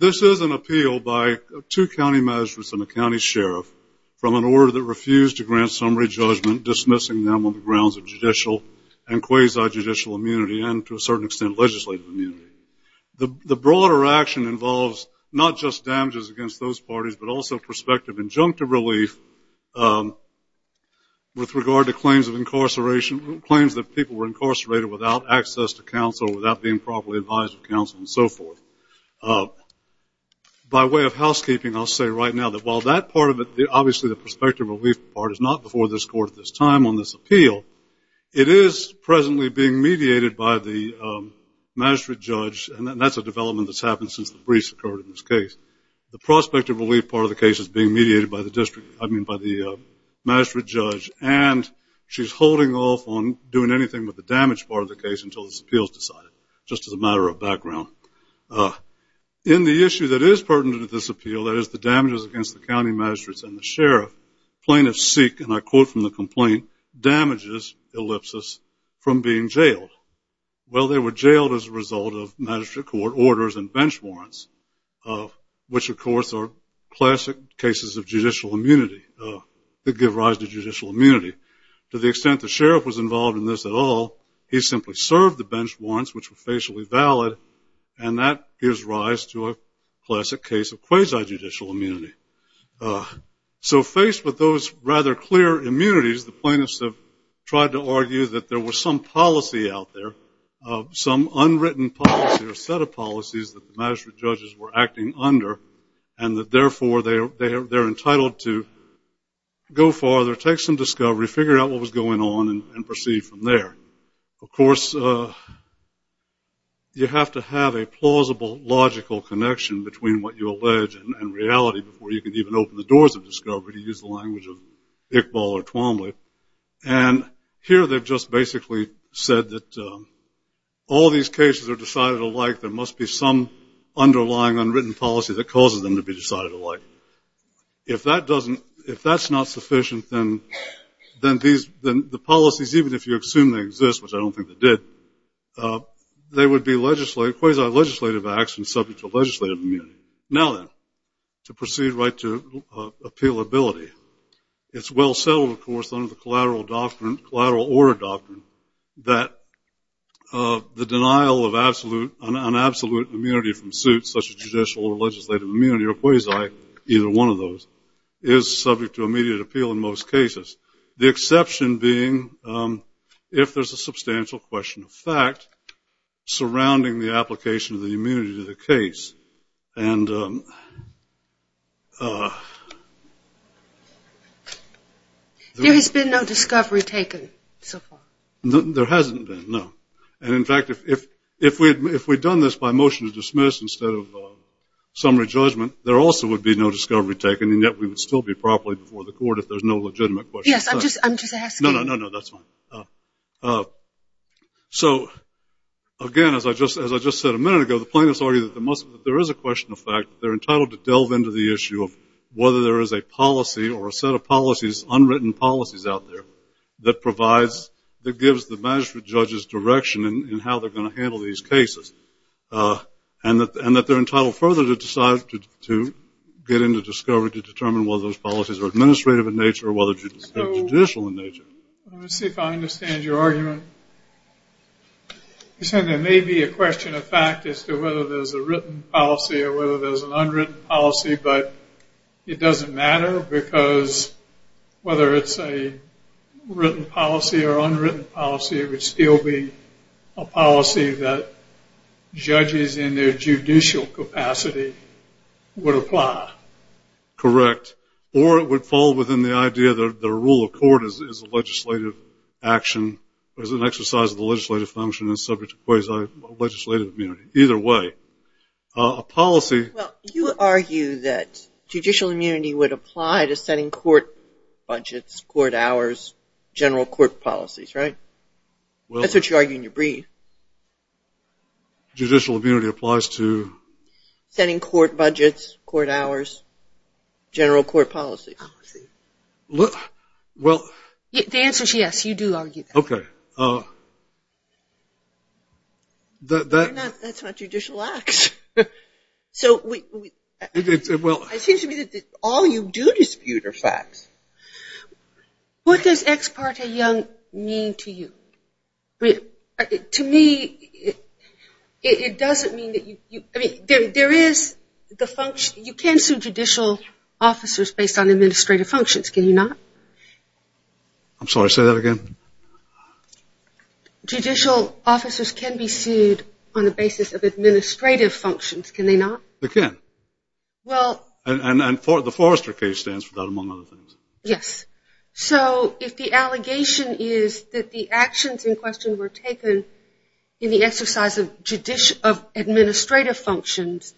This is an appeal by two county magistrates and a county sheriff from an order that refused to grant summary judgment, dismissing them on the grounds of judicial and quasi-judicial immunity and, to a certain extent, legislative immunity. The broader action involves not just damages against those parties, but also prospective injunctive relief with regard to claims of incarceration, claims that people were incarcerated without access to counsel, without being properly advised of counsel, and so forth. By way of housekeeping, I'll say right now that while that part of it, obviously the prospective relief part, is not before this court at this time on this appeal, it is presently being mediated by the magistrate judge, and that's a development that's happened since the briefs occurred in this case. The prospective relief part of the case is being mediated by the district, I mean by the magistrate judge, and she's holding off on doing anything with the damage part of the case until this appeal is decided, just as a matter of background. In the issue that is pertinent to this appeal, that is the damages against the county magistrates and the sheriff, plaintiffs seek, and I quote from the complaint, damages, ellipsis, from being jailed. Well, they were jailed as a result of magistrate court orders and bench warrants, which, of course, are classic cases of judicial immunity that give rise to judicial immunity. He simply served the bench warrants, which were facially valid, and that gives rise to a classic case of quasi-judicial immunity. So, faced with those rather clear immunities, the plaintiffs have tried to argue that there was some policy out there, some unwritten policy or set of policies that the magistrate judges were acting under, and that, therefore, they're entitled to go farther, take some discovery, figure out what was going on, and of course, you have to have a plausible, logical connection between what you allege and reality before you can even open the doors of discovery, to use the language of Iqbal or Twombly, and here they've just basically said that all these cases are decided alike, there must be some underlying, unwritten policy that causes them to be decided alike. If that's not sufficient, then the policies, even if you assume they exist, which I don't think they did, they would be quasi-legislative acts and subject to legislative immunity. Now then, to proceed right to appealability, it's well settled, of course, under the collateral order doctrine that the denial of an absolute immunity from suits, such as judicial or legislative immunity or quasi, either one of those, is subject to immediate appeal in most cases, the exception being if there's a substantial question of fact surrounding the application of the immunity to the case, and... There has been no discovery taken so far. There hasn't been, no, and in fact, if we had done this by motion to dismiss instead of summary judgment, there also would be no discovery taken, and yet we would still be properly before the court if there's no legitimate question of fact. Yes, I'm just asking. No, no, no, that's fine. So again, as I just said a minute ago, the plaintiffs argue that there is a question of fact, they're entitled to delve into the issue of whether there is a policy or a set of policies, unwritten policies out there, that provides, that gives the magistrate or the judge's direction in how they're going to handle these cases, and that they're entitled further to decide to get into discovery to determine whether those policies are administrative in nature or whether they're judicial in nature. Let me see if I understand your argument. You're saying there may be a question of fact as to whether there's a written policy or whether there's an unwritten policy, but it will be a policy that judges in their judicial capacity would apply. Correct. Or it would fall within the idea that the rule of court is a legislative action, or is an exercise of the legislative function and subject to quasi-legislative immunity. Either way. A policy... Well, you argue that judicial immunity would apply to setting court budgets, court hours, general court policies, right? That's what you argue in your brief. Judicial immunity applies to... Setting court budgets, court hours, general court policies. Well... The answer is yes, you do argue that. Okay. That's not judicial acts. It seems to me that all you do dispute are facts. What does that ex parte young mean to you? To me, it doesn't mean that you... I mean, there is the function... You can sue judicial officers based on administrative functions, can you not? I'm sorry, say that again? Judicial officers can be sued on the basis of administrative functions, can they not? They can. Well... And the Forrester case stands for that, among other things. Yes. So, if the allegation is that the actions in question were taken in the exercise of judicial... of administrative functions,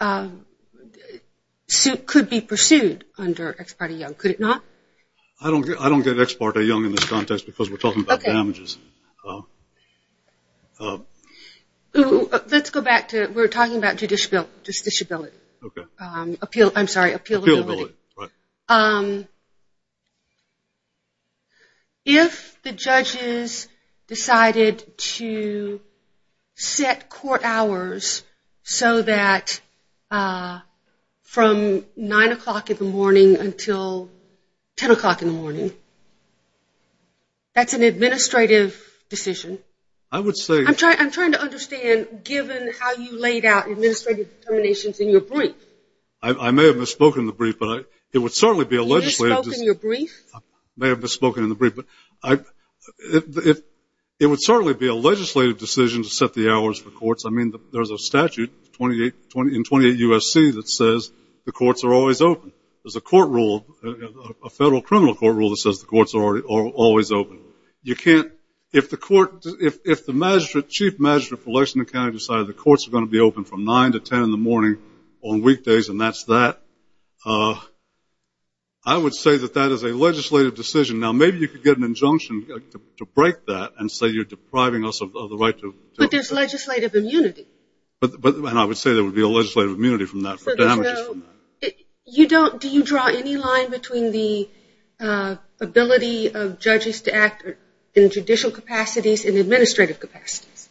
it could be pursued under ex parte young, could it not? I don't get ex parte young in this context because we're talking about damages. Let's go back to... We're talking about judiciability. Okay. I'm sorry, appealability. Appealability, right. If the judges decided to set court hours so that from 9 o'clock in the morning until 10 o'clock in the morning, that's an administrative decision. I would say... I'm trying to understand, given how you laid out administrative determinations in your brief. I may have misspoken in the brief, but it would certainly be a legislative... You misspoken in your brief? I may have misspoken in the brief, but it would certainly be a legislative decision to set the hours for courts. I mean, there's a statute in 28 U.S.C. that says the courts are always open. There's a court rule, a federal criminal court rule that says the courts are always open. You can't... If the chief magistrate for Lexington County decided the courts are going to be open from 9 to 10 in the morning on weekdays and that's that, I would say that that is a legislative decision. Now, maybe you could get an injunction to break that and say you're depriving us of the right to... But there's legislative immunity. And I would say there would be a legislative immunity from that. Do you draw any line between the ability of judges to act in judicial capacities and administrative capacities?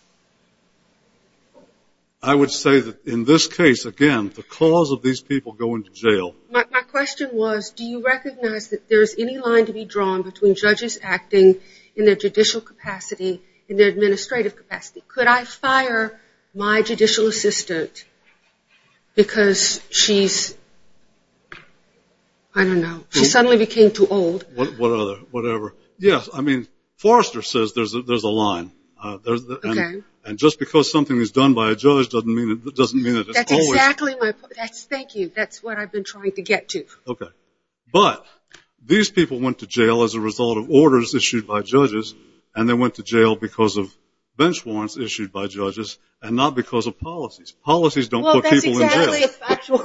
I would say that in this case, again, the cause of these people going to jail... My question was, do you recognize that there's any line to be drawn between judges acting in their judicial capacity and their administrative capacity? Could I fire my judicial assistant because she's... I don't know. She suddenly became too old. Whatever. Yes, I mean, Forrester says there's a line. And just because something is done by a judge doesn't mean that it's always... That's exactly my point. Thank you. That's what I've been trying to get to. Okay. But these people went to jail as a result of orders issued by judges, and they went to jail because of bench warrants issued by judges and not because of policies. Policies don't put people in jail. Well, that's exactly the factual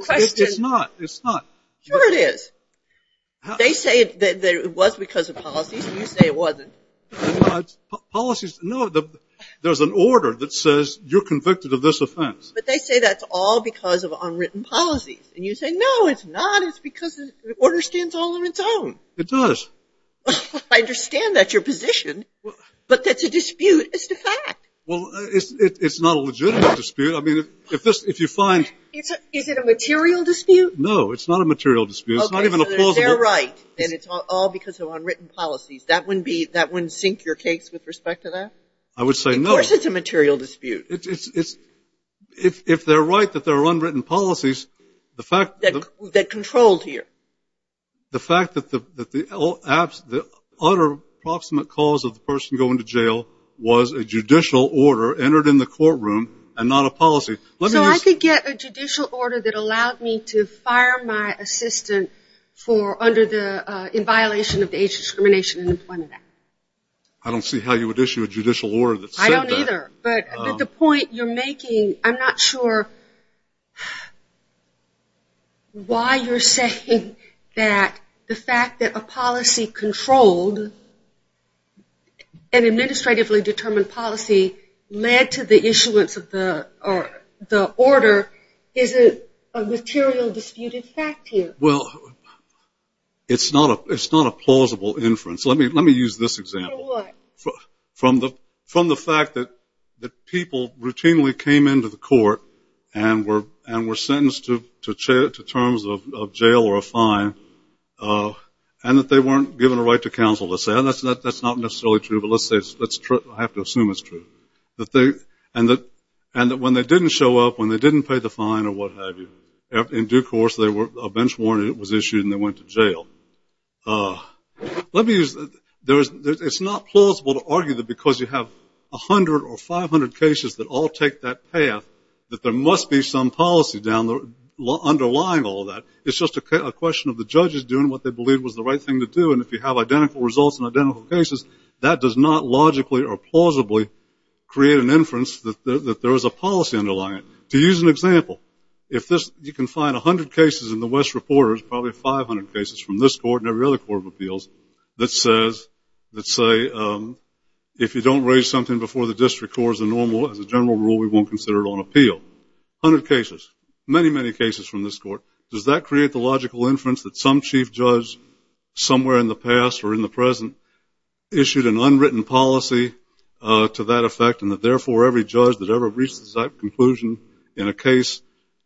question. It's not. It's not. Sure it is. They say that it was because of policies. You say it wasn't. Policies, no, there's an order that says you're convicted of this offense. But they say that's all because of unwritten policies. And you say, no, it's not. It's because the order stands all on its own. It does. I understand that's your position, but that's a dispute. It's the fact. Well, it's not a legitimate dispute. I mean, if you find... Is it a material dispute? No, it's not a material dispute. It's not even a plausible... Okay, so they're right. And it's all because of unwritten policies. That wouldn't sink your case with respect to that? I would say no. Of course it's a material dispute. If they're right that there are unwritten policies, the fact... That control here. The fact that the utter proximate cause of the person going to jail was a judicial order entered in the courtroom and not a policy. So I could get a judicial order that allowed me to fire my assistant for under the... In violation of the Age Discrimination and Employment Act. I don't see how you would issue a judicial order that said that. I don't either. But the point you're making, I'm not sure why you're saying that the fact that a policy controlled, an administratively determined policy, led to the issuance of the order isn't a material disputed fact here. Well, it's not a plausible inference. Let me use this example. From what? From the fact that people routinely came into the court and were sentenced to terms of jail or a fine and that they weren't given a right to counsel. That's not necessarily true, but I have to assume it's true. And that when they didn't show up, when they didn't pay the fine or what have you, in due course a bench warrant was issued and they went to jail. It's not plausible to argue that because you have 100 or 500 cases that all take that path that there must be some policy underlying all of that. It's just a question of the judges doing what they believe was the right thing to do. And if you have identical results in identical cases, that does not logically or plausibly create an inference that there is a policy underlying it. To use an example, you can find 100 cases in the West Reporters, probably 500 cases from this court and every other court of appeals, that say if you don't raise something before the district court is a normal, as a general rule, we won't consider it on appeal. A hundred cases, many, many cases from this court. Does that create the logical inference that some chief judge somewhere in the past or in the present issued an unwritten policy to that effect and that therefore every judge that ever reaches that conclusion in a case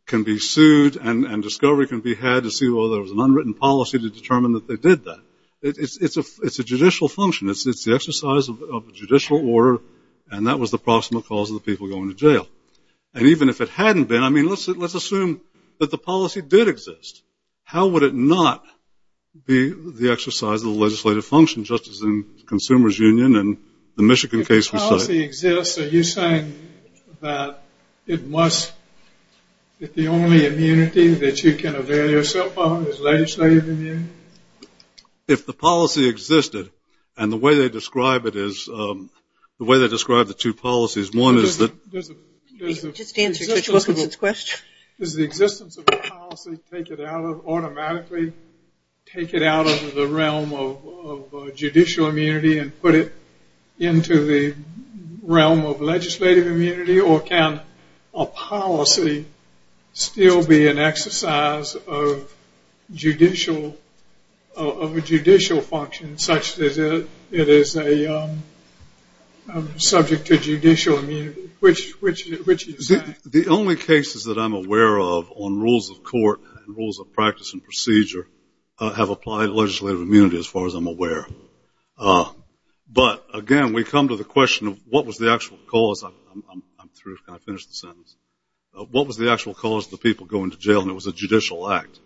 can be sued and discovery can be had to see, well, there was an unwritten policy to determine that they did that. It's a judicial function. It's the exercise of judicial order and that was the proximate cause of the people going to jail. And even if it hadn't been, I mean, let's assume that the policy did exist. How would it not be the exercise of the legislative function just as in Consumers Union and the Michigan case we cite? If the policy exists, are you saying that it must, that the only immunity that you can avail yourself of is legislative immunity? If the policy existed, and the way they describe it is, the way they describe the two policies, one is that. Just answer Judge Wilkinson's question. Does the existence of the policy take it out of automatically, take it out of the realm of judicial immunity and put it into the realm of legislative immunity or can a policy still be an exercise of judicial, of a judicial function such that it is a subject to judicial immunity? Which is that? The only cases that I'm aware of on rules of court and rules of practice and procedure have applied legislative immunity as far as I'm aware. But again, we come to the question of what was the actual cause, I'm through, I finished the sentence. What was the actual cause of the people going to jail and it was a judicial act?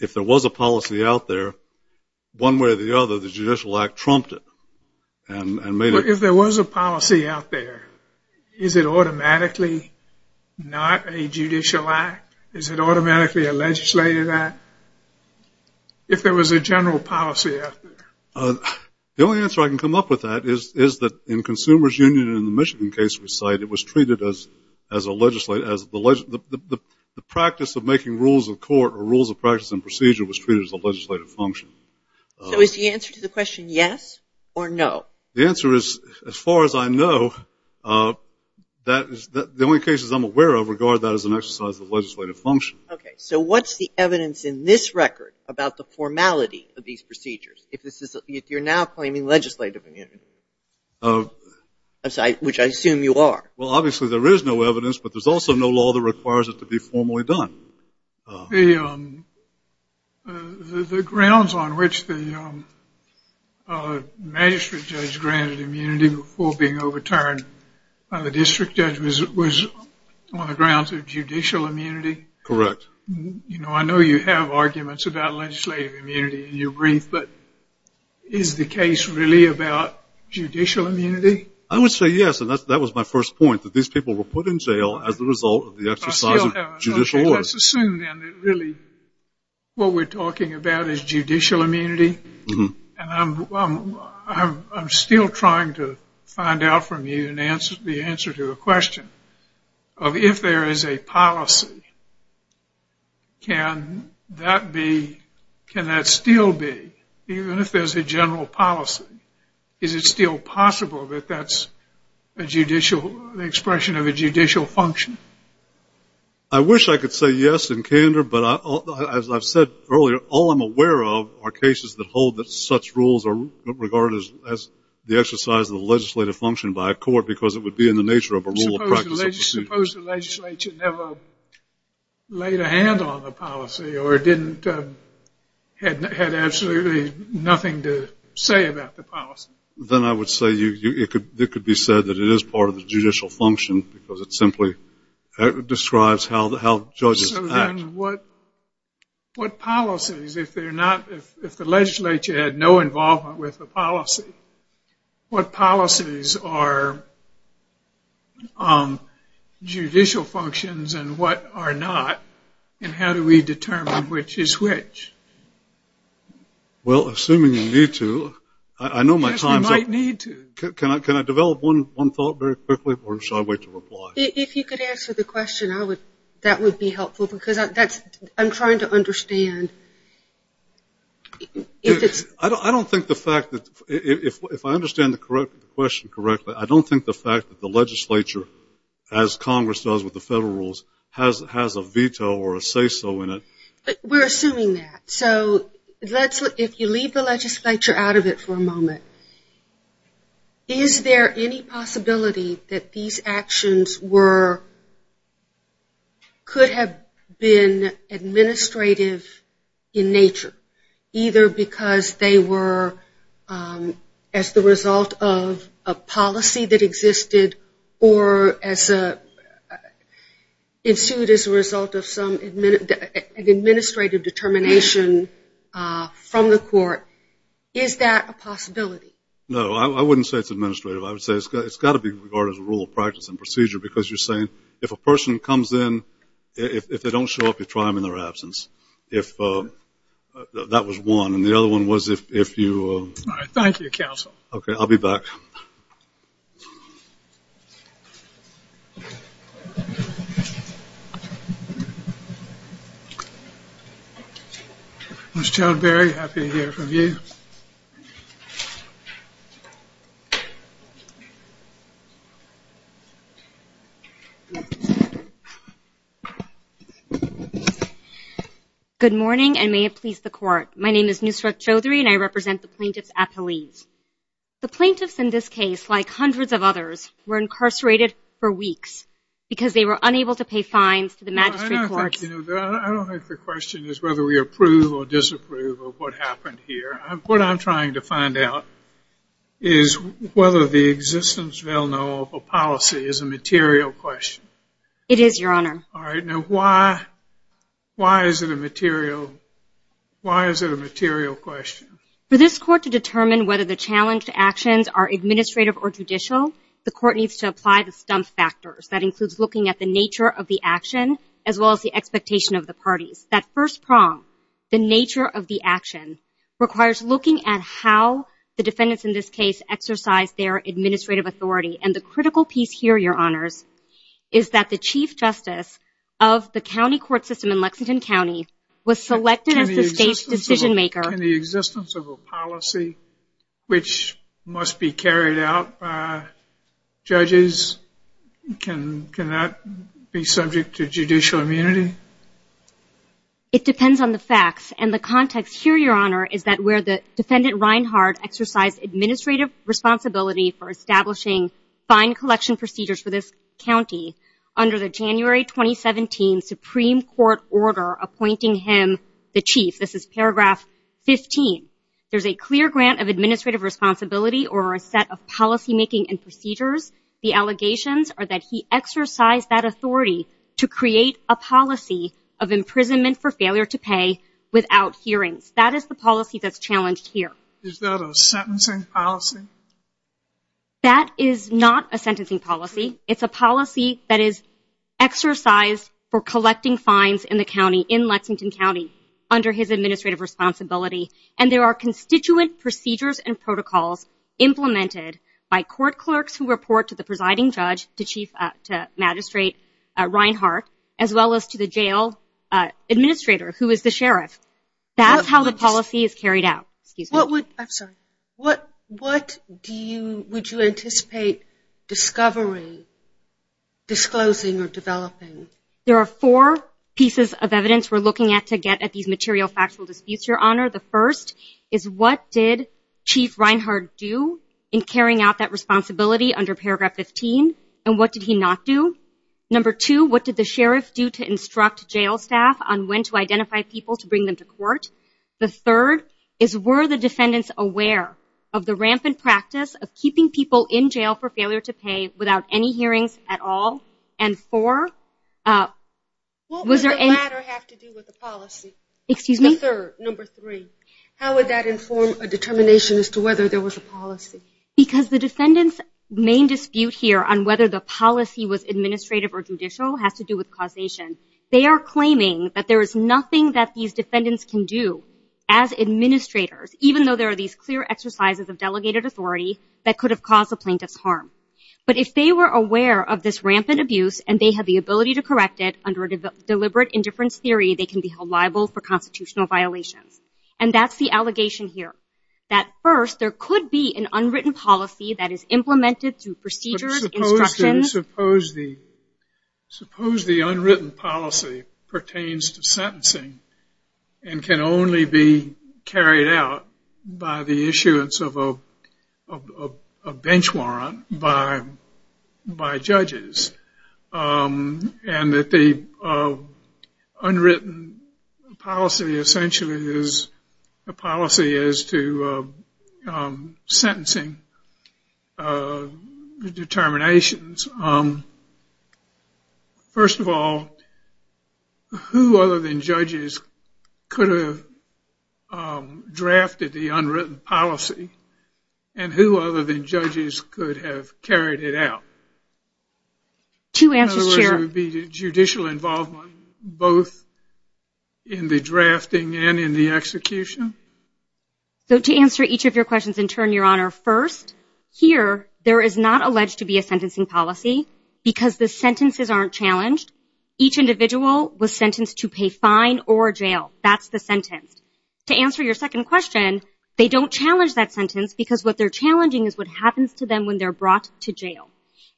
If there was a policy out there, one way or the other, the judicial act trumped it and made it. If there was a policy out there, is it automatically not a judicial act? Is it automatically a legislative act? If there was a general policy out there. The only answer I can come up with that is that in Consumers Union in the Michigan case we cite, it was treated as a legislative, the practice of making rules of court or rules of practice and procedure was treated as a legislative function. So is the answer to the question yes or no? The answer is, as far as I know, the only cases I'm aware of regard that as an exercise of legislative function. Okay. So what's the evidence in this record about the formality of these procedures if you're now claiming legislative immunity, which I assume you are? Well, obviously there is no evidence, but there's also no law that requires it to be formally done. The grounds on which the magistrate judge granted immunity before being overturned by the district judge was on the grounds of judicial immunity. Correct. I know you have arguments about legislative immunity in your brief, but is the case really about judicial immunity? I would say yes, and that was my first point that these people were put in jail as a result of the exercise of judicial order. Let's assume then that really what we're talking about is judicial immunity. I'm still trying to find out from you the answer to a question of if there is a policy, can that still be, even if there's a general policy, is it still possible that that's the expression of a judicial function? I wish I could say yes in candor, but as I've said earlier, all I'm aware of are cases that hold that such rules are regarded as the exercise of the legislative function by a court because it would be in the nature of a rule of practice. Suppose the legislature never laid a hand on the policy or had absolutely nothing to say about the policy. Then I would say it could be said that it is part of the judicial function because it simply describes how judges act. Then what policies, if the legislature had no involvement with the policy, what policies are judicial functions and what are not, and how do we determine which is which? Well, assuming you need to, I know my time is up. Yes, we might need to. Can I develop one thought very quickly or should I wait to reply? If you could answer the question, that would be helpful, because I'm trying to understand. I don't think the fact that, if I understand the question correctly, I don't think the fact that the legislature, as Congress does with the federal rules, has a veto or a say-so in it. We're assuming that. So if you leave the legislature out of it for a moment, is there any possibility that these actions were, could have been administrative in nature, either because they were as the result of a policy that existed or ensued as a result of some administrative determination from the court? Is that a possibility? No. I wouldn't say it's administrative. I would say it's got to be regarded as a rule of practice and procedure, because you're saying if a person comes in, if they don't show up, you try them in their absence. That was one. And the other one was if you. All right. Thank you, counsel. Okay. I'll be back. Ms. Chowdhury, happy to hear from you. Good morning, and may it please the court. My name is Nusrat Chowdhury, and I represent the plaintiff's appellees. The plaintiffs in this case, like hundreds of others, were incarcerated for weeks because they were unable to pay fines to the magistrate courts. I don't think the question is whether we approve or disapprove of what happened here. What I'm trying to find out is whether the existence, well, no, of a policy is a material question. It is, Your Honor. All right. Now, why is it a material question? For this court to determine whether the challenged actions are administrative or judicial, the court needs to apply the stump factors. That includes looking at the nature of the action, as well as the expectation of the parties. That first prong, the nature of the action, requires looking at how the defendants in this case exercise their administrative authority. And the critical piece here, Your Honors, is that the chief justice of the county court system in Lexington County was selected as the state's decision maker. In the existence of a policy which must be carried out by judges, can that be subject to judicial immunity? It depends on the facts. And the context here, Your Honor, is that where the defendant, Reinhard, exercised administrative responsibility for establishing fine collection procedures for this county under the January 2017 Supreme Court order appointing him the chief. This is paragraph 15. There's a clear grant of administrative responsibility or a set of policymaking and procedures. The allegations are that he exercised that authority to create a policy of imprisonment for failure to pay without hearings. That is the policy that's challenged here. Is that a sentencing policy? That is not a sentencing policy. It's a policy that is exercised for collecting fines in the county, in Lexington County, under his administrative responsibility. And there are constituent procedures and protocols implemented by court clerks who report to the presiding judge, the chief magistrate, Reinhard, as well as to the jail administrator, who is the sheriff. That's how the policy is carried out. Excuse me. What would you anticipate discovering, disclosing, or developing? There are four pieces of evidence we're looking at to get at these material factual disputes, Your Honor. The first is what did Chief Reinhard do in carrying out that responsibility under paragraph 15, and what did he not do? Number two, what did the sheriff do to instruct jail staff on when to identify people to bring them to court? The third is were the defendants aware of the rampant practice of keeping people in jail for failure to pay without any hearings at all? And four, was there any... What would the latter have to do with the policy? Excuse me? Number three, how would that inform a determination as to whether there was a policy? Because the defendants' main dispute here on whether the policy was administrative or judicial has to do with causation. They are claiming that there is nothing that these defendants can do as administrators, even though there are these clear exercises of delegated authority that could have caused the plaintiff's harm. But if they were aware of this rampant abuse and they had the ability to correct it under deliberate indifference theory, they can be held liable for constitutional violations. And that's the allegation here, that first there could be an unwritten policy that is implemented through procedures, instructions... But suppose the unwritten policy pertains to sentencing and can only be carried out by the issuance of a bench warrant by judges and that the unwritten policy essentially is a policy as to sentencing determinations. First of all, who other than judges could have drafted the unwritten policy and who other than judges could have carried it out? In other words, there would be judicial involvement both in the drafting and in the execution? To answer each of your questions in turn, Your Honor, first, here there is not alleged to be a sentencing policy because the sentences aren't challenged. Each individual was sentenced to pay fine or jail. That's the sentence. To answer your second question, they don't challenge that sentence because what they're challenging is what happens to them when they're brought to jail.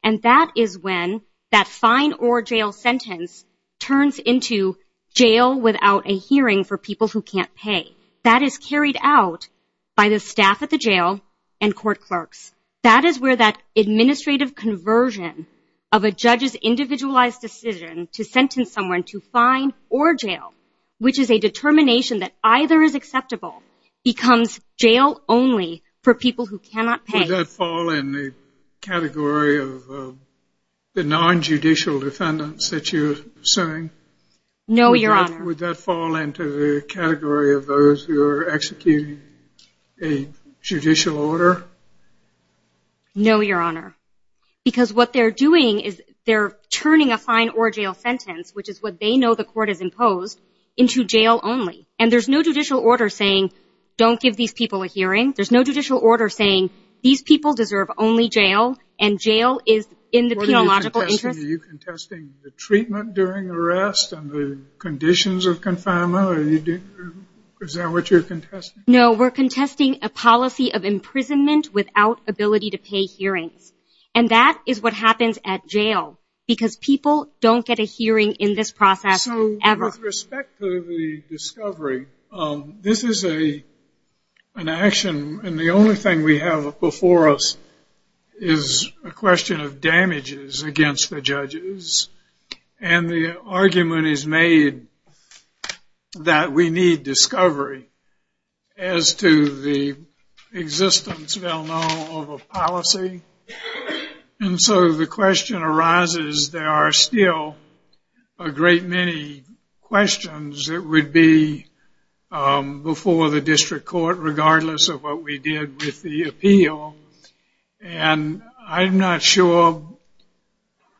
And that is when that fine or jail sentence turns into jail without a hearing for people who can't pay. That is carried out by the staff at the jail and court clerks. That is where that administrative conversion of a judge's individualized decision to sentence someone to fine or jail, which is a determination that either is acceptable, becomes jail only for people who cannot pay. Would that fall in the category of the nonjudicial defendants that you're suing? No, Your Honor. Would that fall into the category of those who are executing a judicial order? No, Your Honor, because what they're doing is they're turning a fine or jail sentence, which is what they know the court has imposed, into jail only. And there's no judicial order saying don't give these people a hearing. There's no judicial order saying these people deserve only jail and jail is in the penal logical interest. Are you contesting the treatment during arrest and the conditions of confinement? Is that what you're contesting? No, we're contesting a policy of imprisonment without ability to pay hearings. And that is what happens at jail, because people don't get a hearing in this process ever. So with respect to the discovery, this is an action, and the only thing we have before us is a question of damages against the judges, and the argument is made that we need discovery as to the existence, we all know, of a policy. And so the question arises, there are still a great many questions that would be before the district court, regardless of what we did with the appeal. And I'm not sure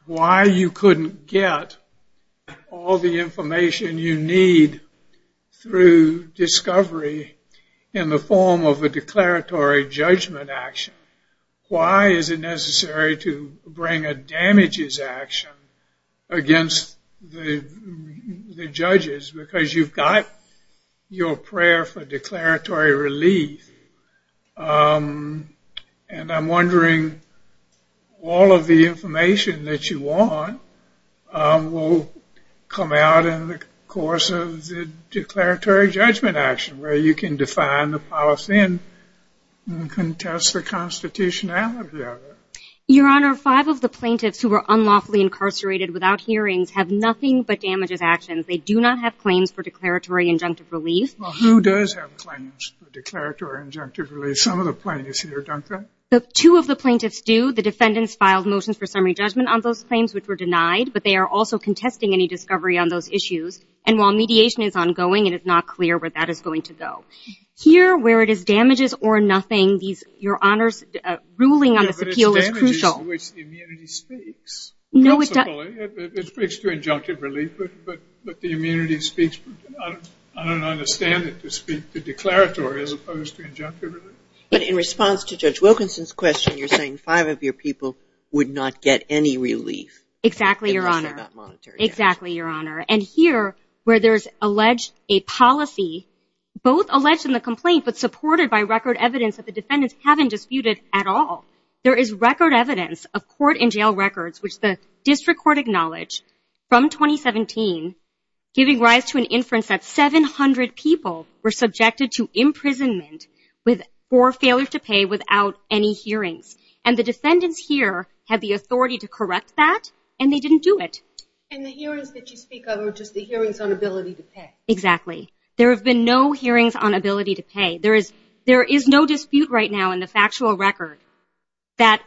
why you couldn't get all the information you need through discovery in the form of a declaratory judgment action. Why is it necessary to bring a damages action against the judges, because you've got your prayer for declaratory relief. And I'm wondering, all of the information that you want will come out in the course of the declaratory judgment action, where you can define the policy and contest the constitutionality of it. Your Honor, five of the plaintiffs who were unlawfully incarcerated without hearings have nothing but damages actions. They do not have claims for declaratory injunctive relief. Well, who does have claims for declaratory injunctive relief? Some of the plaintiffs here, don't they? Two of the plaintiffs do. The defendants filed motions for summary judgment on those claims, which were denied, but they are also contesting any discovery on those issues. And while mediation is ongoing, it is not clear where that is going to go. Here, where it is damages or nothing, your Honor's ruling on this appeal is crucial. It speaks to injunctive relief, but the immunity speaks, I don't understand it to speak to declaratory as opposed to injunctive relief. But in response to Judge Wilkinson's question, you're saying five of your people would not get any relief. Exactly, Your Honor. Exactly, Your Honor. And here, where there's alleged a policy, both alleged in the complaint, but supported by record evidence that the defendants haven't disputed at all. There is record evidence of court and jail records, which the district court acknowledged from 2017, giving rise to an inference that 700 people were subjected to imprisonment for failure to pay without any hearings. And the defendants here had the authority to correct that, and they didn't do it. And the hearings that you speak of are just the hearings on ability to pay. There have been no hearings on ability to pay. There is no dispute right now in the factual record that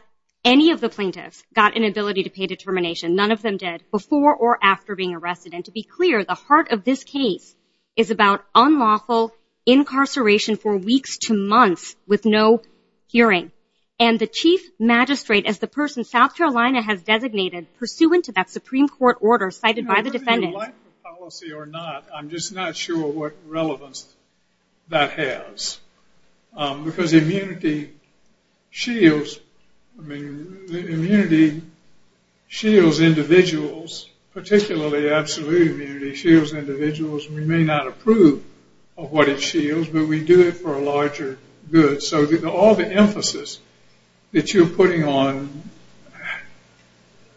any of the plaintiffs got an ability to pay determination, none of them did, before or after being arrested. And to be clear, the heart of this case is about unlawful incarceration for weeks to months with no hearing. And the Chief Magistrate, as the person South Carolina has designated, pursuant to that Supreme Court order cited by the defendants. Whether you like the policy or not, I'm just not sure what relevance that has. Because immunity shields individuals, particularly absolute immunity shields individuals. We may not approve of what it shields, but we do it for a larger good. So all the emphasis that you're putting on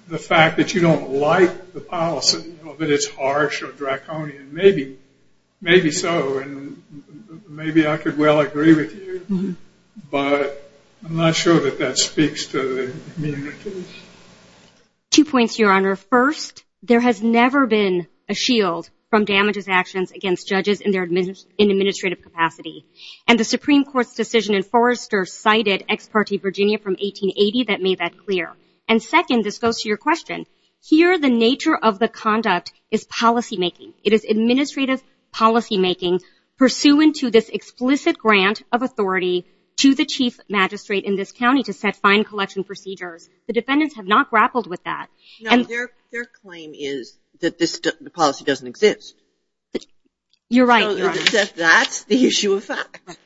the fact that you don't like the policy, that it's harsh or draconian, maybe so, and maybe I could well agree with you. But I'm not sure that that speaks to the immunity. Two points, Your Honor. First, there has never been a shield from damages actions against judges in administrative capacity. And the Supreme Court's decision in Forrester cited Ex parte Virginia from 1880 that made that clear. And second, this goes to your question, here the nature of the conduct is policymaking. It is administrative policymaking pursuant to this explicit grant of authority to the Chief Magistrate in this county to set fine collection procedures. The defendants have not grappled with that. No, their claim is that the policy doesn't exist. You're right. That's the issue of fact that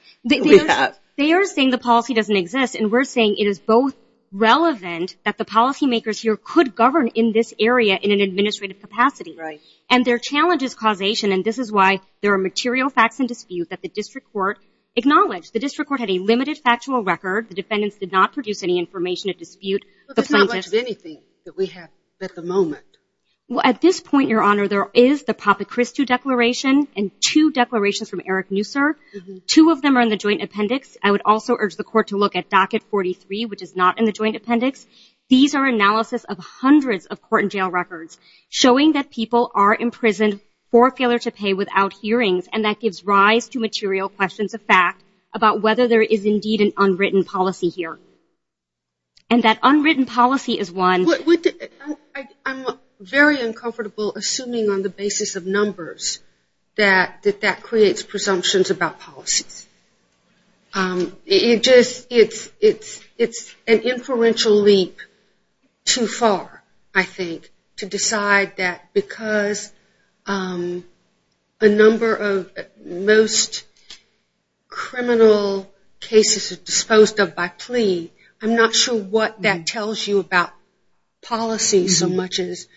we have. They are saying the policy doesn't exist, and we're saying it is both relevant that the policymakers here could govern in this area in an administrative capacity. Right. And their challenge is causation, and this is why there are material facts in dispute that the district court acknowledged. The district court had a limited factual record. The defendants did not produce any information at dispute. But there's not much of anything that we have at the moment. Well, at this point, Your Honor, there is the Papachristou Declaration and two declarations from Eric Neusser. Two of them are in the joint appendix. I would also urge the court to look at Docket 43, which is not in the joint appendix. These are analysis of hundreds of court and jail records showing that people are imprisoned for failure to pay without hearings, and that gives rise to material questions of fact about whether there is indeed an unwritten policy here. And that unwritten policy is one. I'm very uncomfortable assuming on the basis of numbers that that creates presumptions about policies. It's an inferential leap too far, I think, to decide that because a number of most criminal cases are disposed of by plea, I'm not sure what that tells you about policies so much as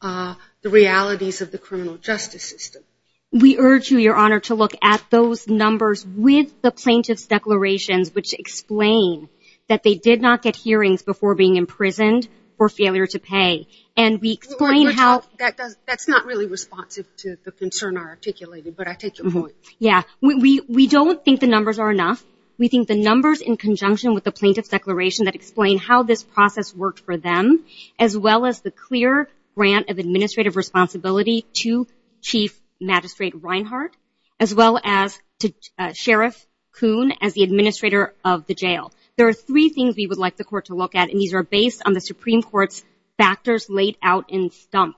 the realities of the criminal justice system. We urge you, Your Honor, to look at those numbers with the plaintiff's declarations which explain that they did not get hearings before being imprisoned for failure to pay. That's not really responsive to the concern I articulated, but I take your point. Yeah. We don't think the numbers are enough. We think the numbers in conjunction with the plaintiff's declaration that explain how this process worked for them, as well as the clear grant of administrative responsibility to Chief Magistrate Reinhart, as well as to Sheriff Coon as the administrator of the jail. There are three things we would like the court to look at, and these are based on the Supreme Court's factors laid out in STUMP.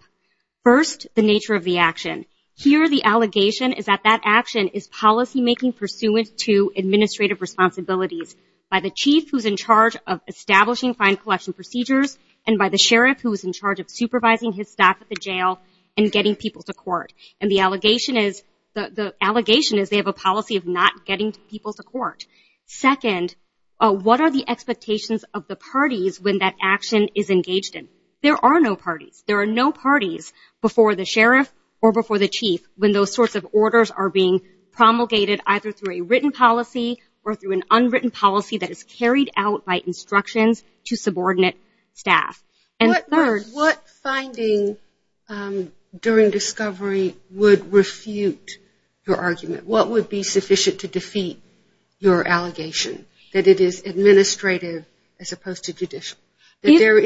First, the nature of the action. Here the allegation is that that action is policymaking pursuant to administrative responsibilities by the chief who is in charge of establishing fine collection procedures and by the sheriff who is in charge of supervising his staff at the jail and getting people to court. And the allegation is they have a policy of not getting people to court. Second, what are the expectations of the parties when that action is engaged in? There are no parties. There are no parties before the sheriff or before the chief when those sorts of orders are being promulgated either through a written policy or through an unwritten policy that is carried out by instructions to subordinate staff. And third- What finding during discovery would refute your argument? What would be sufficient to defeat your allegation that it is administrative as opposed to judicial? That there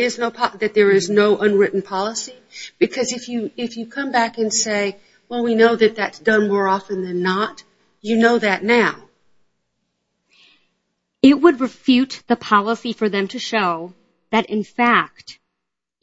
is no unwritten policy? Because if you come back and say, well, we know that that's done more often than not, you know that now. It would refute the policy for them to show that in fact,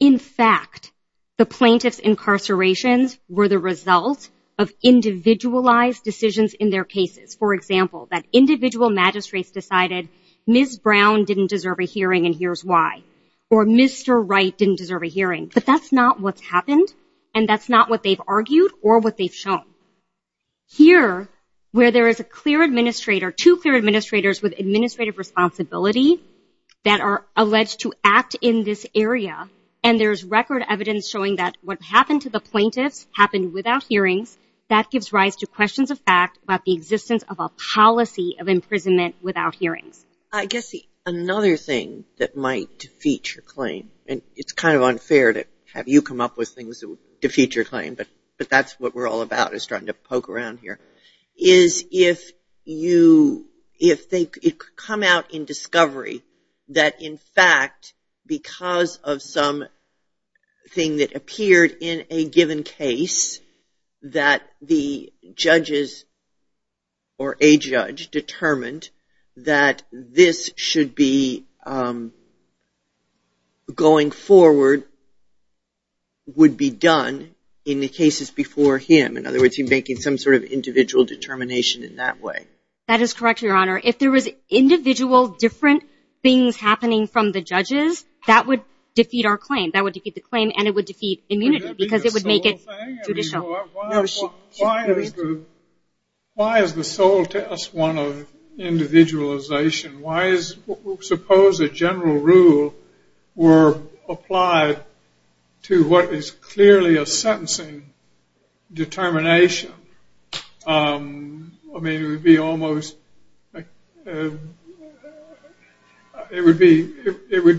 in fact the plaintiff's incarcerations were the result of individualized decisions in their cases. For example, that individual magistrates decided Ms. Brown didn't deserve a hearing and here's why. Or Mr. Wright didn't deserve a hearing. But that's not what's happened and that's not what they've argued or what they've shown. Here, where there is a clear administrator, two clear administrators with administrative responsibility that are alleged to act in this area, and there's record evidence showing that what happened to the plaintiffs happened without hearings, that gives rise to questions of fact about the existence of a policy of imprisonment without hearings. I guess another thing that might defeat your claim, and it's kind of unfair to have you come up with things that would defeat your claim, but that's what we're all about is trying to poke around here, is if you, if they come out in discovery that in fact, because of something that appeared in a given case, that the judges or a judge determined that this should be going forward, would be done in the cases before him. In other words, he's making some sort of individual determination in that way. That is correct, Your Honor. If there was individual different things happening from the judges, that would defeat our claim. That would defeat the claim and it would defeat immunity because it would make it judicial. Why is the sole test one of individualization? Why is, suppose a general rule were applied to what is clearly a sentencing determination? I mean, it would be almost, it would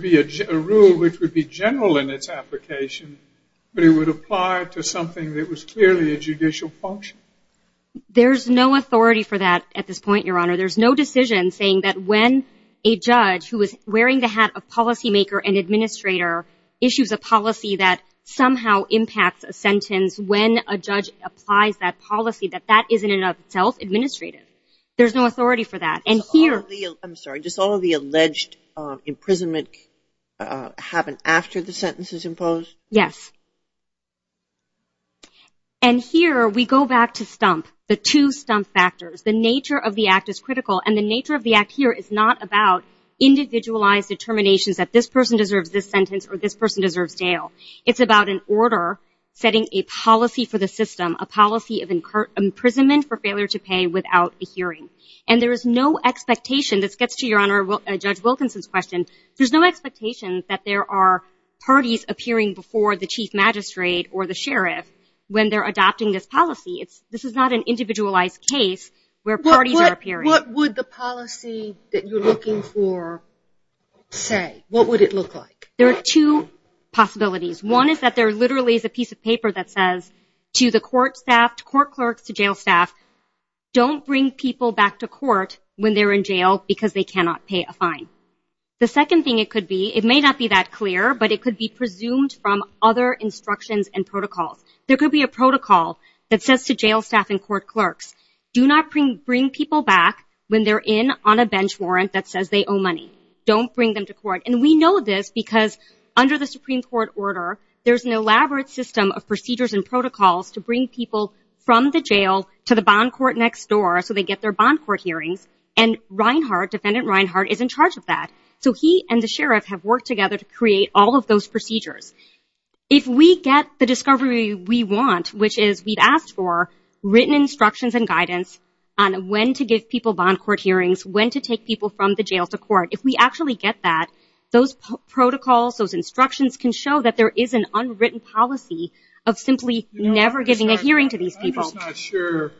be a rule which would be general in its application, but it would apply to something that was clearly a judicial function. There's no authority for that at this point, Your Honor. There's no decision saying that when a judge who is wearing the hat of policymaker and administrator issues a policy that somehow impacts a sentence, when a judge applies that policy, that that is in and of itself administrative. There's no authority for that. I'm sorry, just all of the alleged imprisonment happened after the sentence is imposed? Yes. And here we go back to stump, the two stump factors. The nature of the act is critical, and the nature of the act here is not about individualized determinations that this person deserves this sentence or this person deserves jail. It's about an order setting a policy for the system, a policy of imprisonment for failure to pay without a hearing. And there is no expectation, this gets to Your Honor, Judge Wilkinson's question, there's no expectation that there are parties appearing before the chief magistrate or the sheriff when they're adopting this policy. This is not an individualized case where parties are appearing. What would the policy that you're looking for say? What would it look like? There are two possibilities. One is that there literally is a piece of paper that says to the court staff, to court clerks, to jail staff, don't bring people back to court when they're in jail because they cannot pay a fine. The second thing it could be, it may not be that clear, but it could be presumed from other instructions and protocols. There could be a protocol that says to jail staff and court clerks, do not bring people back when they're in on a bench warrant that says they owe money. Don't bring them to court. And we know this because under the Supreme Court order, there's an elaborate system of procedures and protocols to bring people from the jail to the bond court next door so they get their bond court hearings. And Reinhart, Defendant Reinhart, is in charge of that. So he and the sheriff have worked together to create all of those procedures. If we get the discovery we want, which is we've asked for written instructions and guidance on when to give people bond court hearings, when to take people from the jail to court, if we actually get that, those protocols, those instructions can show that there is an unwritten policy of simply never giving a hearing to these people. I'm just not sure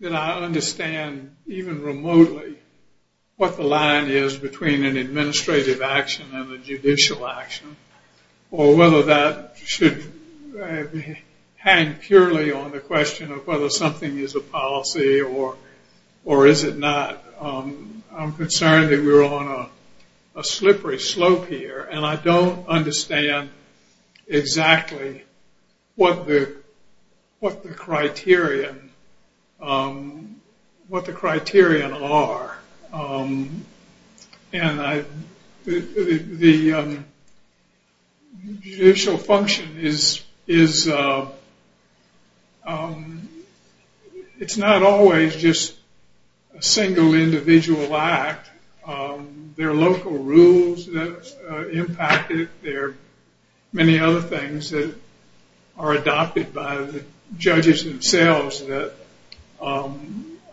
that I understand even remotely what the line is between an administrative action and a judicial action or whether that should hang purely on the question of whether something is a policy or is it not. I'm concerned that we're on a slippery slope here, and I don't understand exactly what the criterion are. And the judicial function is, it's not always just a single individual act. There are local rules that impact it. There are many other things that are adopted by the judges themselves that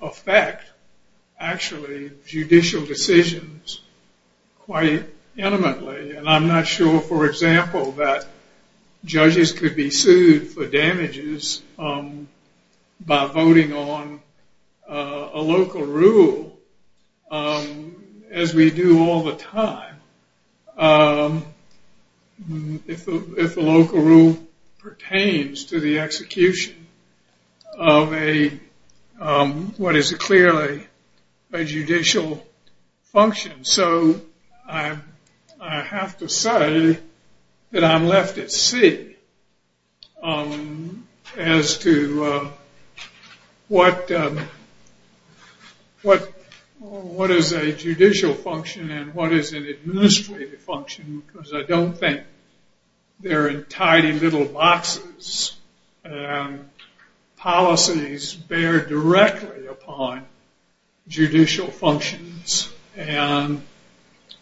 affect, actually, judicial decisions quite intimately. And I'm not sure, for example, that judges could be sued for damages by voting on a local rule as we do all the time. If the local rule pertains to the execution of what is clearly a judicial function. So I have to say that I'm left at sea as to what is a judicial function and what is an administrative function, because I don't think they're in tidy little boxes. Policies bear directly upon judicial functions, and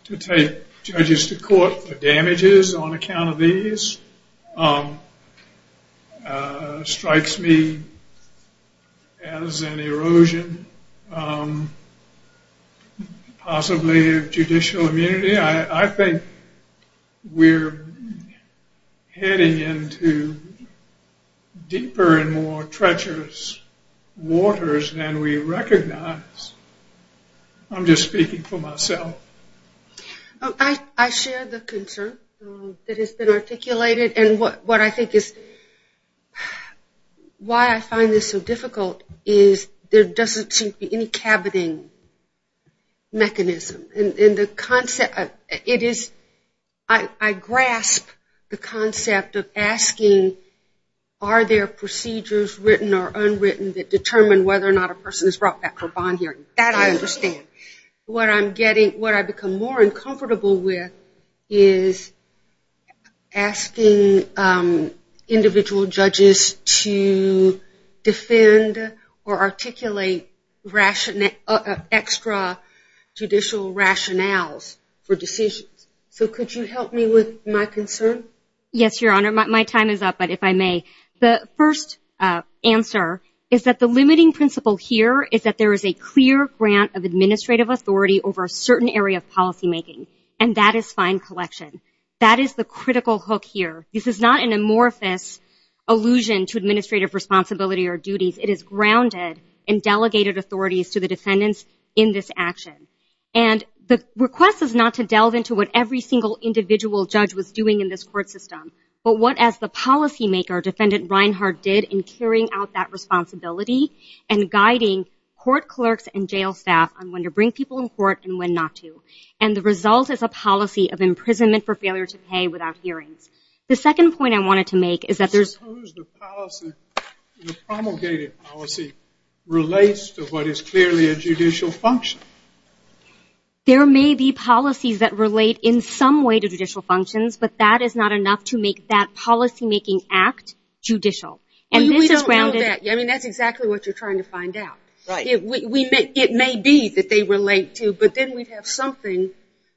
to take judges to court for damages on account of these strikes me as an erosion, possibly, of judicial immunity. I think we're heading into deeper and more treacherous waters than we recognize. I'm just speaking for myself. I share the concern that has been articulated, and what I think is why I find this so difficult is there doesn't seem to be any cabineting mechanism. I grasp the concept of asking are there procedures written or unwritten that determine whether or not a person is brought back for bond hearing. That I understand. What I become more uncomfortable with is asking individual judges to defend or articulate extra judicial rationales for decisions. So could you help me with my concern? Yes, Your Honor. My time is up, but if I may. The first answer is that the limiting principle here is that there is a clear grant of administrative authority over a certain area of policymaking, and that is fine collection. That is the critical hook here. This is not an amorphous allusion to administrative responsibility or duties. It is grounded in delegated authorities to the defendants in this action. And the request is not to delve into what every single individual judge was doing in this court system, but what, as the policymaker, Defendant Reinhart did in carrying out that responsibility and guiding court clerks and jail staff on when to bring people in court and when not to. And the result is a policy of imprisonment for failure to pay without hearings. The second point I wanted to make is that there's... I suppose the policy, the promulgated policy, relates to what is clearly a judicial function. There may be policies that relate in some way to judicial functions, but that is not enough to make that policymaking act judicial. And this is grounded... Well, we don't know that. I mean, that's exactly what you're trying to find out. Right. It may be that they relate to, but then we'd have something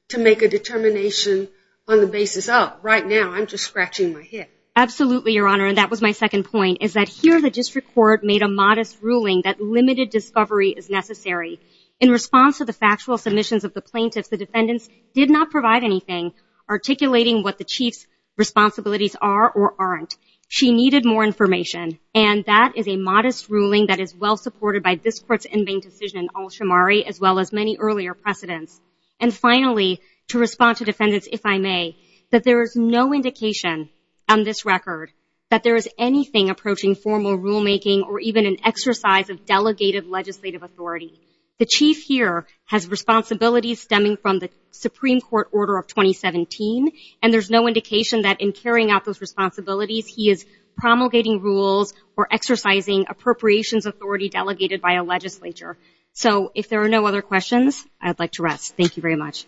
to make a determination on the basis of. Right now, I'm just scratching my head. Absolutely, Your Honor, and that was my second point, is that here the district court made a modest ruling that limited discovery is necessary. In response to the factual submissions of the plaintiffs, the defendants did not provide anything articulating what the Chief's responsibilities are or aren't. She needed more information, and that is a modest ruling that is well supported by this Court's in vain decision in Alshamari as well as many earlier precedents. And finally, to respond to defendants, if I may, that there is no indication on this record that there is anything approaching formal rulemaking or even an exercise of delegated legislative authority. The Chief here has responsibilities stemming from the Supreme Court order of 2017, and there's no indication that in carrying out those responsibilities he is promulgating rules or exercising appropriations authority delegated by a legislature. So, if there are no other questions, I'd like to rest. Thank you very much.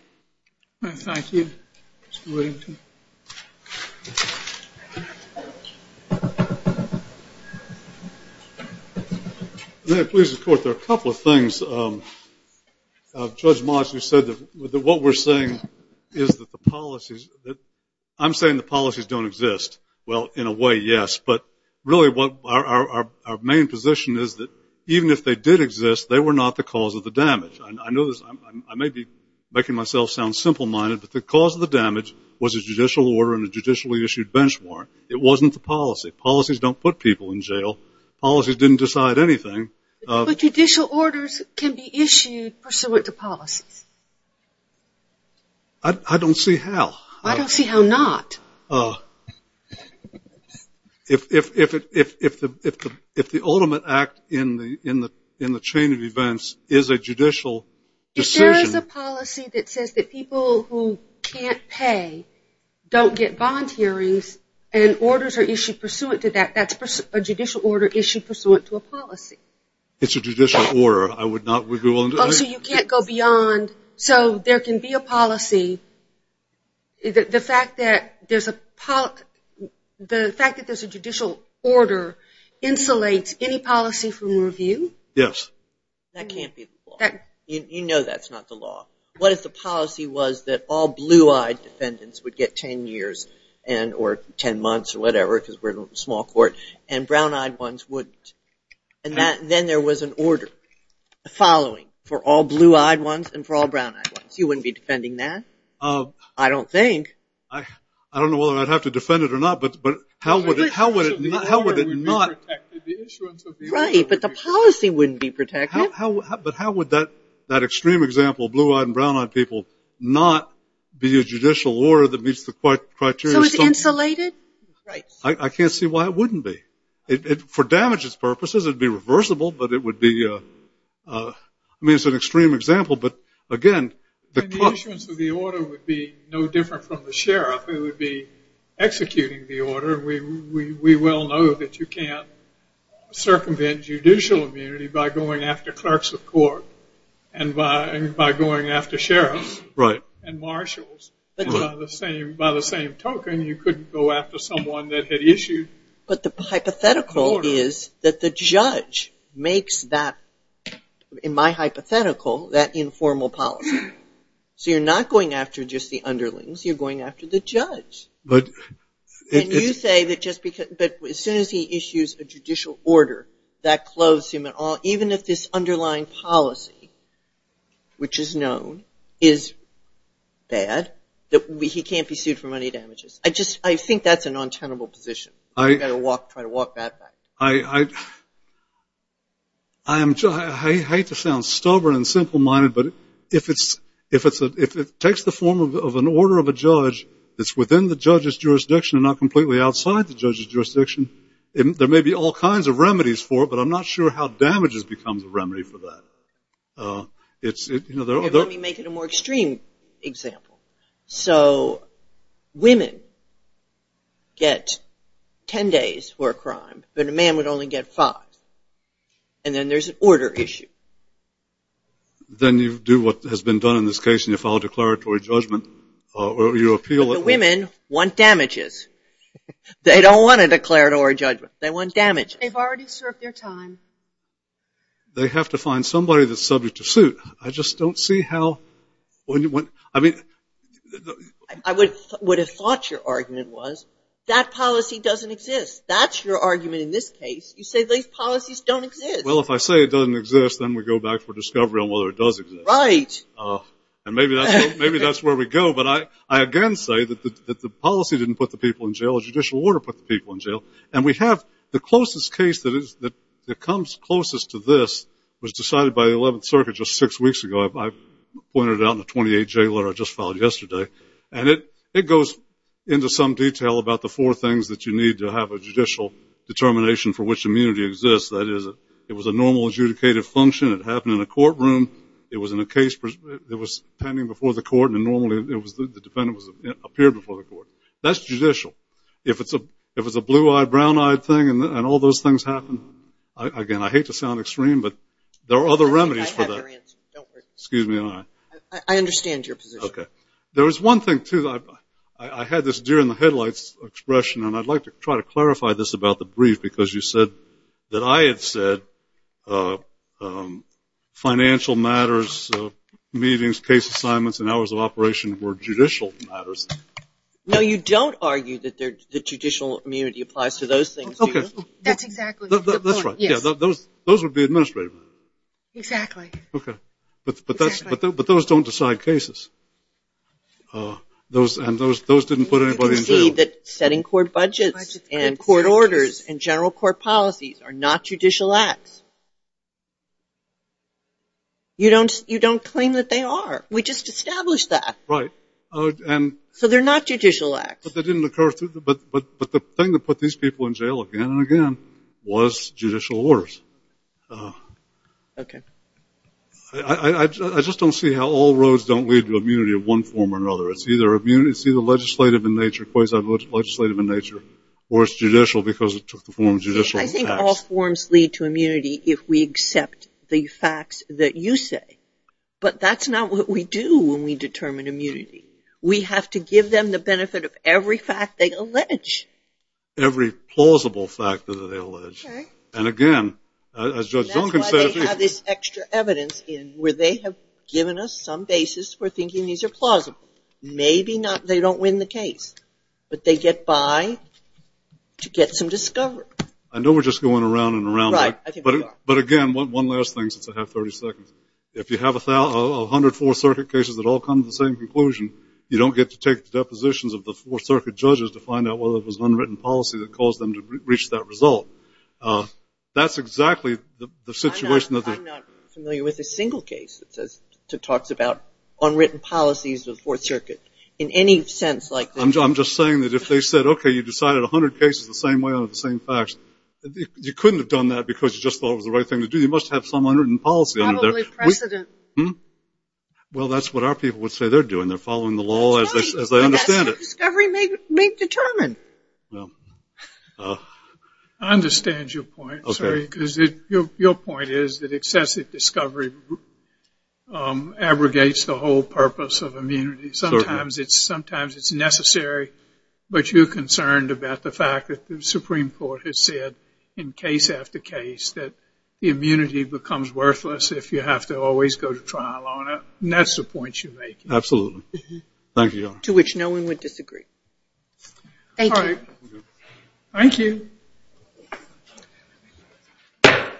Thank you. Mr. Whittington. May I please report there are a couple of things. Judge Moss, you said that what we're saying is that the policies... I'm saying the policies don't exist. Well, in a way, yes, but really what our main position is that even if they did exist, they were not the cause of the damage. I may be making myself sound simple-minded, but the cause of the damage was a judicial order and a judicially issued bench warrant. It wasn't the policy. Policies don't put people in jail. Policies didn't decide anything. But judicial orders can be issued pursuant to policies. I don't see how. I don't see how not. If the ultimate act in the chain of events is a judicial decision... If there is a policy that says that people who can't pay don't get bond hearings and orders are issued pursuant to that, that's a judicial order issued pursuant to a policy. It's a judicial order. I would not... So you can't go beyond... So there can be a policy. The fact that there's a judicial order insulates any policy from review? Yes. That can't be the law. You know that's not the law. What if the policy was that all blue-eyed defendants would get 10 years or 10 months or whatever because we're a small court, and brown-eyed ones wouldn't? And then there was an order following for all blue-eyed ones and for all brown-eyed ones. You wouldn't be defending that? I don't think. I don't know whether I'd have to defend it or not, but how would it not... Right, but the policy wouldn't be protected. But how would that extreme example, blue-eyed and brown-eyed people, not be a judicial order that meets the criteria... So it's insulated? Right. I can't see why it wouldn't be. For damages purposes, it would be reversible, but it would be... I mean, it's an extreme example, but again... The issuance of the order would be no different from the sheriff. It would be executing the order. We well know that you can't circumvent judicial immunity by going after clerks of court and by going after sheriffs and marshals. By the same token, you couldn't go after someone that had issued the order. But the hypothetical is that the judge makes that, in my hypothetical, that informal policy. So you're not going after just the underlings. You're going after the judge. But... And you say that just because... But as soon as he issues a judicial order, that clothes him at all. Even if this underlying policy, which is known, is bad, that he can't be sued for any damages. I think that's a non-tenable position. You've got to try to walk that back. I hate to sound stubborn and simple-minded, but if it takes the form of an order of a judge that's within the judge's jurisdiction and not completely outside the judge's jurisdiction, there may be all kinds of remedies for it, but I'm not sure how damages becomes a remedy for that. It's... Let me make it a more extreme example. So women get ten days for a crime, but a man would only get five. And then there's an order issue. Then you do what has been done in this case and you file a declaratory judgment, or you appeal... But the women want damages. They don't want a declaratory judgment. They want damages. They've already served their time. They have to find somebody that's subject to suit. I just don't see how... I mean... I would have thought your argument was, that policy doesn't exist. That's your argument in this case. You say these policies don't exist. Well, if I say it doesn't exist, then we go back for discovery on whether it does exist. Right. And maybe that's where we go, The judicial order put the people in jail. And we have the closest case that comes closest to this was decided by the 11th Circuit just six weeks ago. I pointed it out in the 28-J letter I just filed yesterday. And it goes into some detail about the four things that you need to have a judicial determination for which immunity exists. That is, it was a normal adjudicated function. It happened in a courtroom. It was in a case that was pending before the court, and normally the defendant appeared before the court. That's judicial. If it's a blue-eyed, brown-eyed thing, and all those things happen, again, I hate to sound extreme, but there are other remedies for that. I have your answer. Don't worry. Excuse me. I understand your position. Okay. There was one thing, too. I had this deer-in-the-headlights expression, and I'd like to try to clarify this about the brief, because you said that I had said financial matters, meetings, case assignments, and hours of operation were judicial matters. No, you don't argue that judicial immunity applies to those things. That's exactly the point. That's right. Those would be administrative matters. Exactly. Okay. But those don't decide cases, and those didn't put anybody in jail. You can see that setting court budgets and court orders and general court policies are not judicial acts. You don't claim that they are. We just established that. Right. So they're not judicial acts. But the thing that put these people in jail again and again was judicial orders. Okay. I just don't see how all roads don't lead to immunity of one form or another. It's either legislative in nature, quasi-legislative in nature, or it's judicial because it took the form of judicial acts. I think all forms lead to immunity if we accept the facts that you say. But that's not what we do when we determine immunity. We have to give them the benefit of every fact they allege. Every plausible fact that they allege. And, again, as Judge Duncan said. That's why they have this extra evidence in where they have given us some basis for thinking these are plausible. Maybe they don't win the case, but they get by to get some discovery. I know we're just going around and around. Right, I think we are. But, again, one last thing since I have 30 seconds. If you have 100 Fourth Circuit cases that all come to the same conclusion, you don't get to take the depositions of the Fourth Circuit judges to find out whether it was unwritten policy that caused them to reach that result. That's exactly the situation that they're in. I'm not familiar with a single case that talks about unwritten policies of the Fourth Circuit in any sense like this. I'm just saying that if they said, okay, you decided 100 cases the same way out of the same facts, you couldn't have done that because you just thought it was the right thing to do. You must have some unwritten policy under there. Probably precedent. Well, that's what our people would say they're doing. They're following the law as they understand it. But that's what discovery may determine. I understand your point. Your point is that excessive discovery abrogates the whole purpose of immunity. Sometimes it's necessary, but you're concerned about the fact that the Supreme Court has said in case after case that the immunity becomes worthless if you have to always go to trial on it. And that's the point you're making. Thank you, Your Honor. To which no one would disagree. Thank you. Thank you. Thank you. We're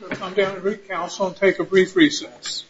going to come down to recouncil and take a brief recess.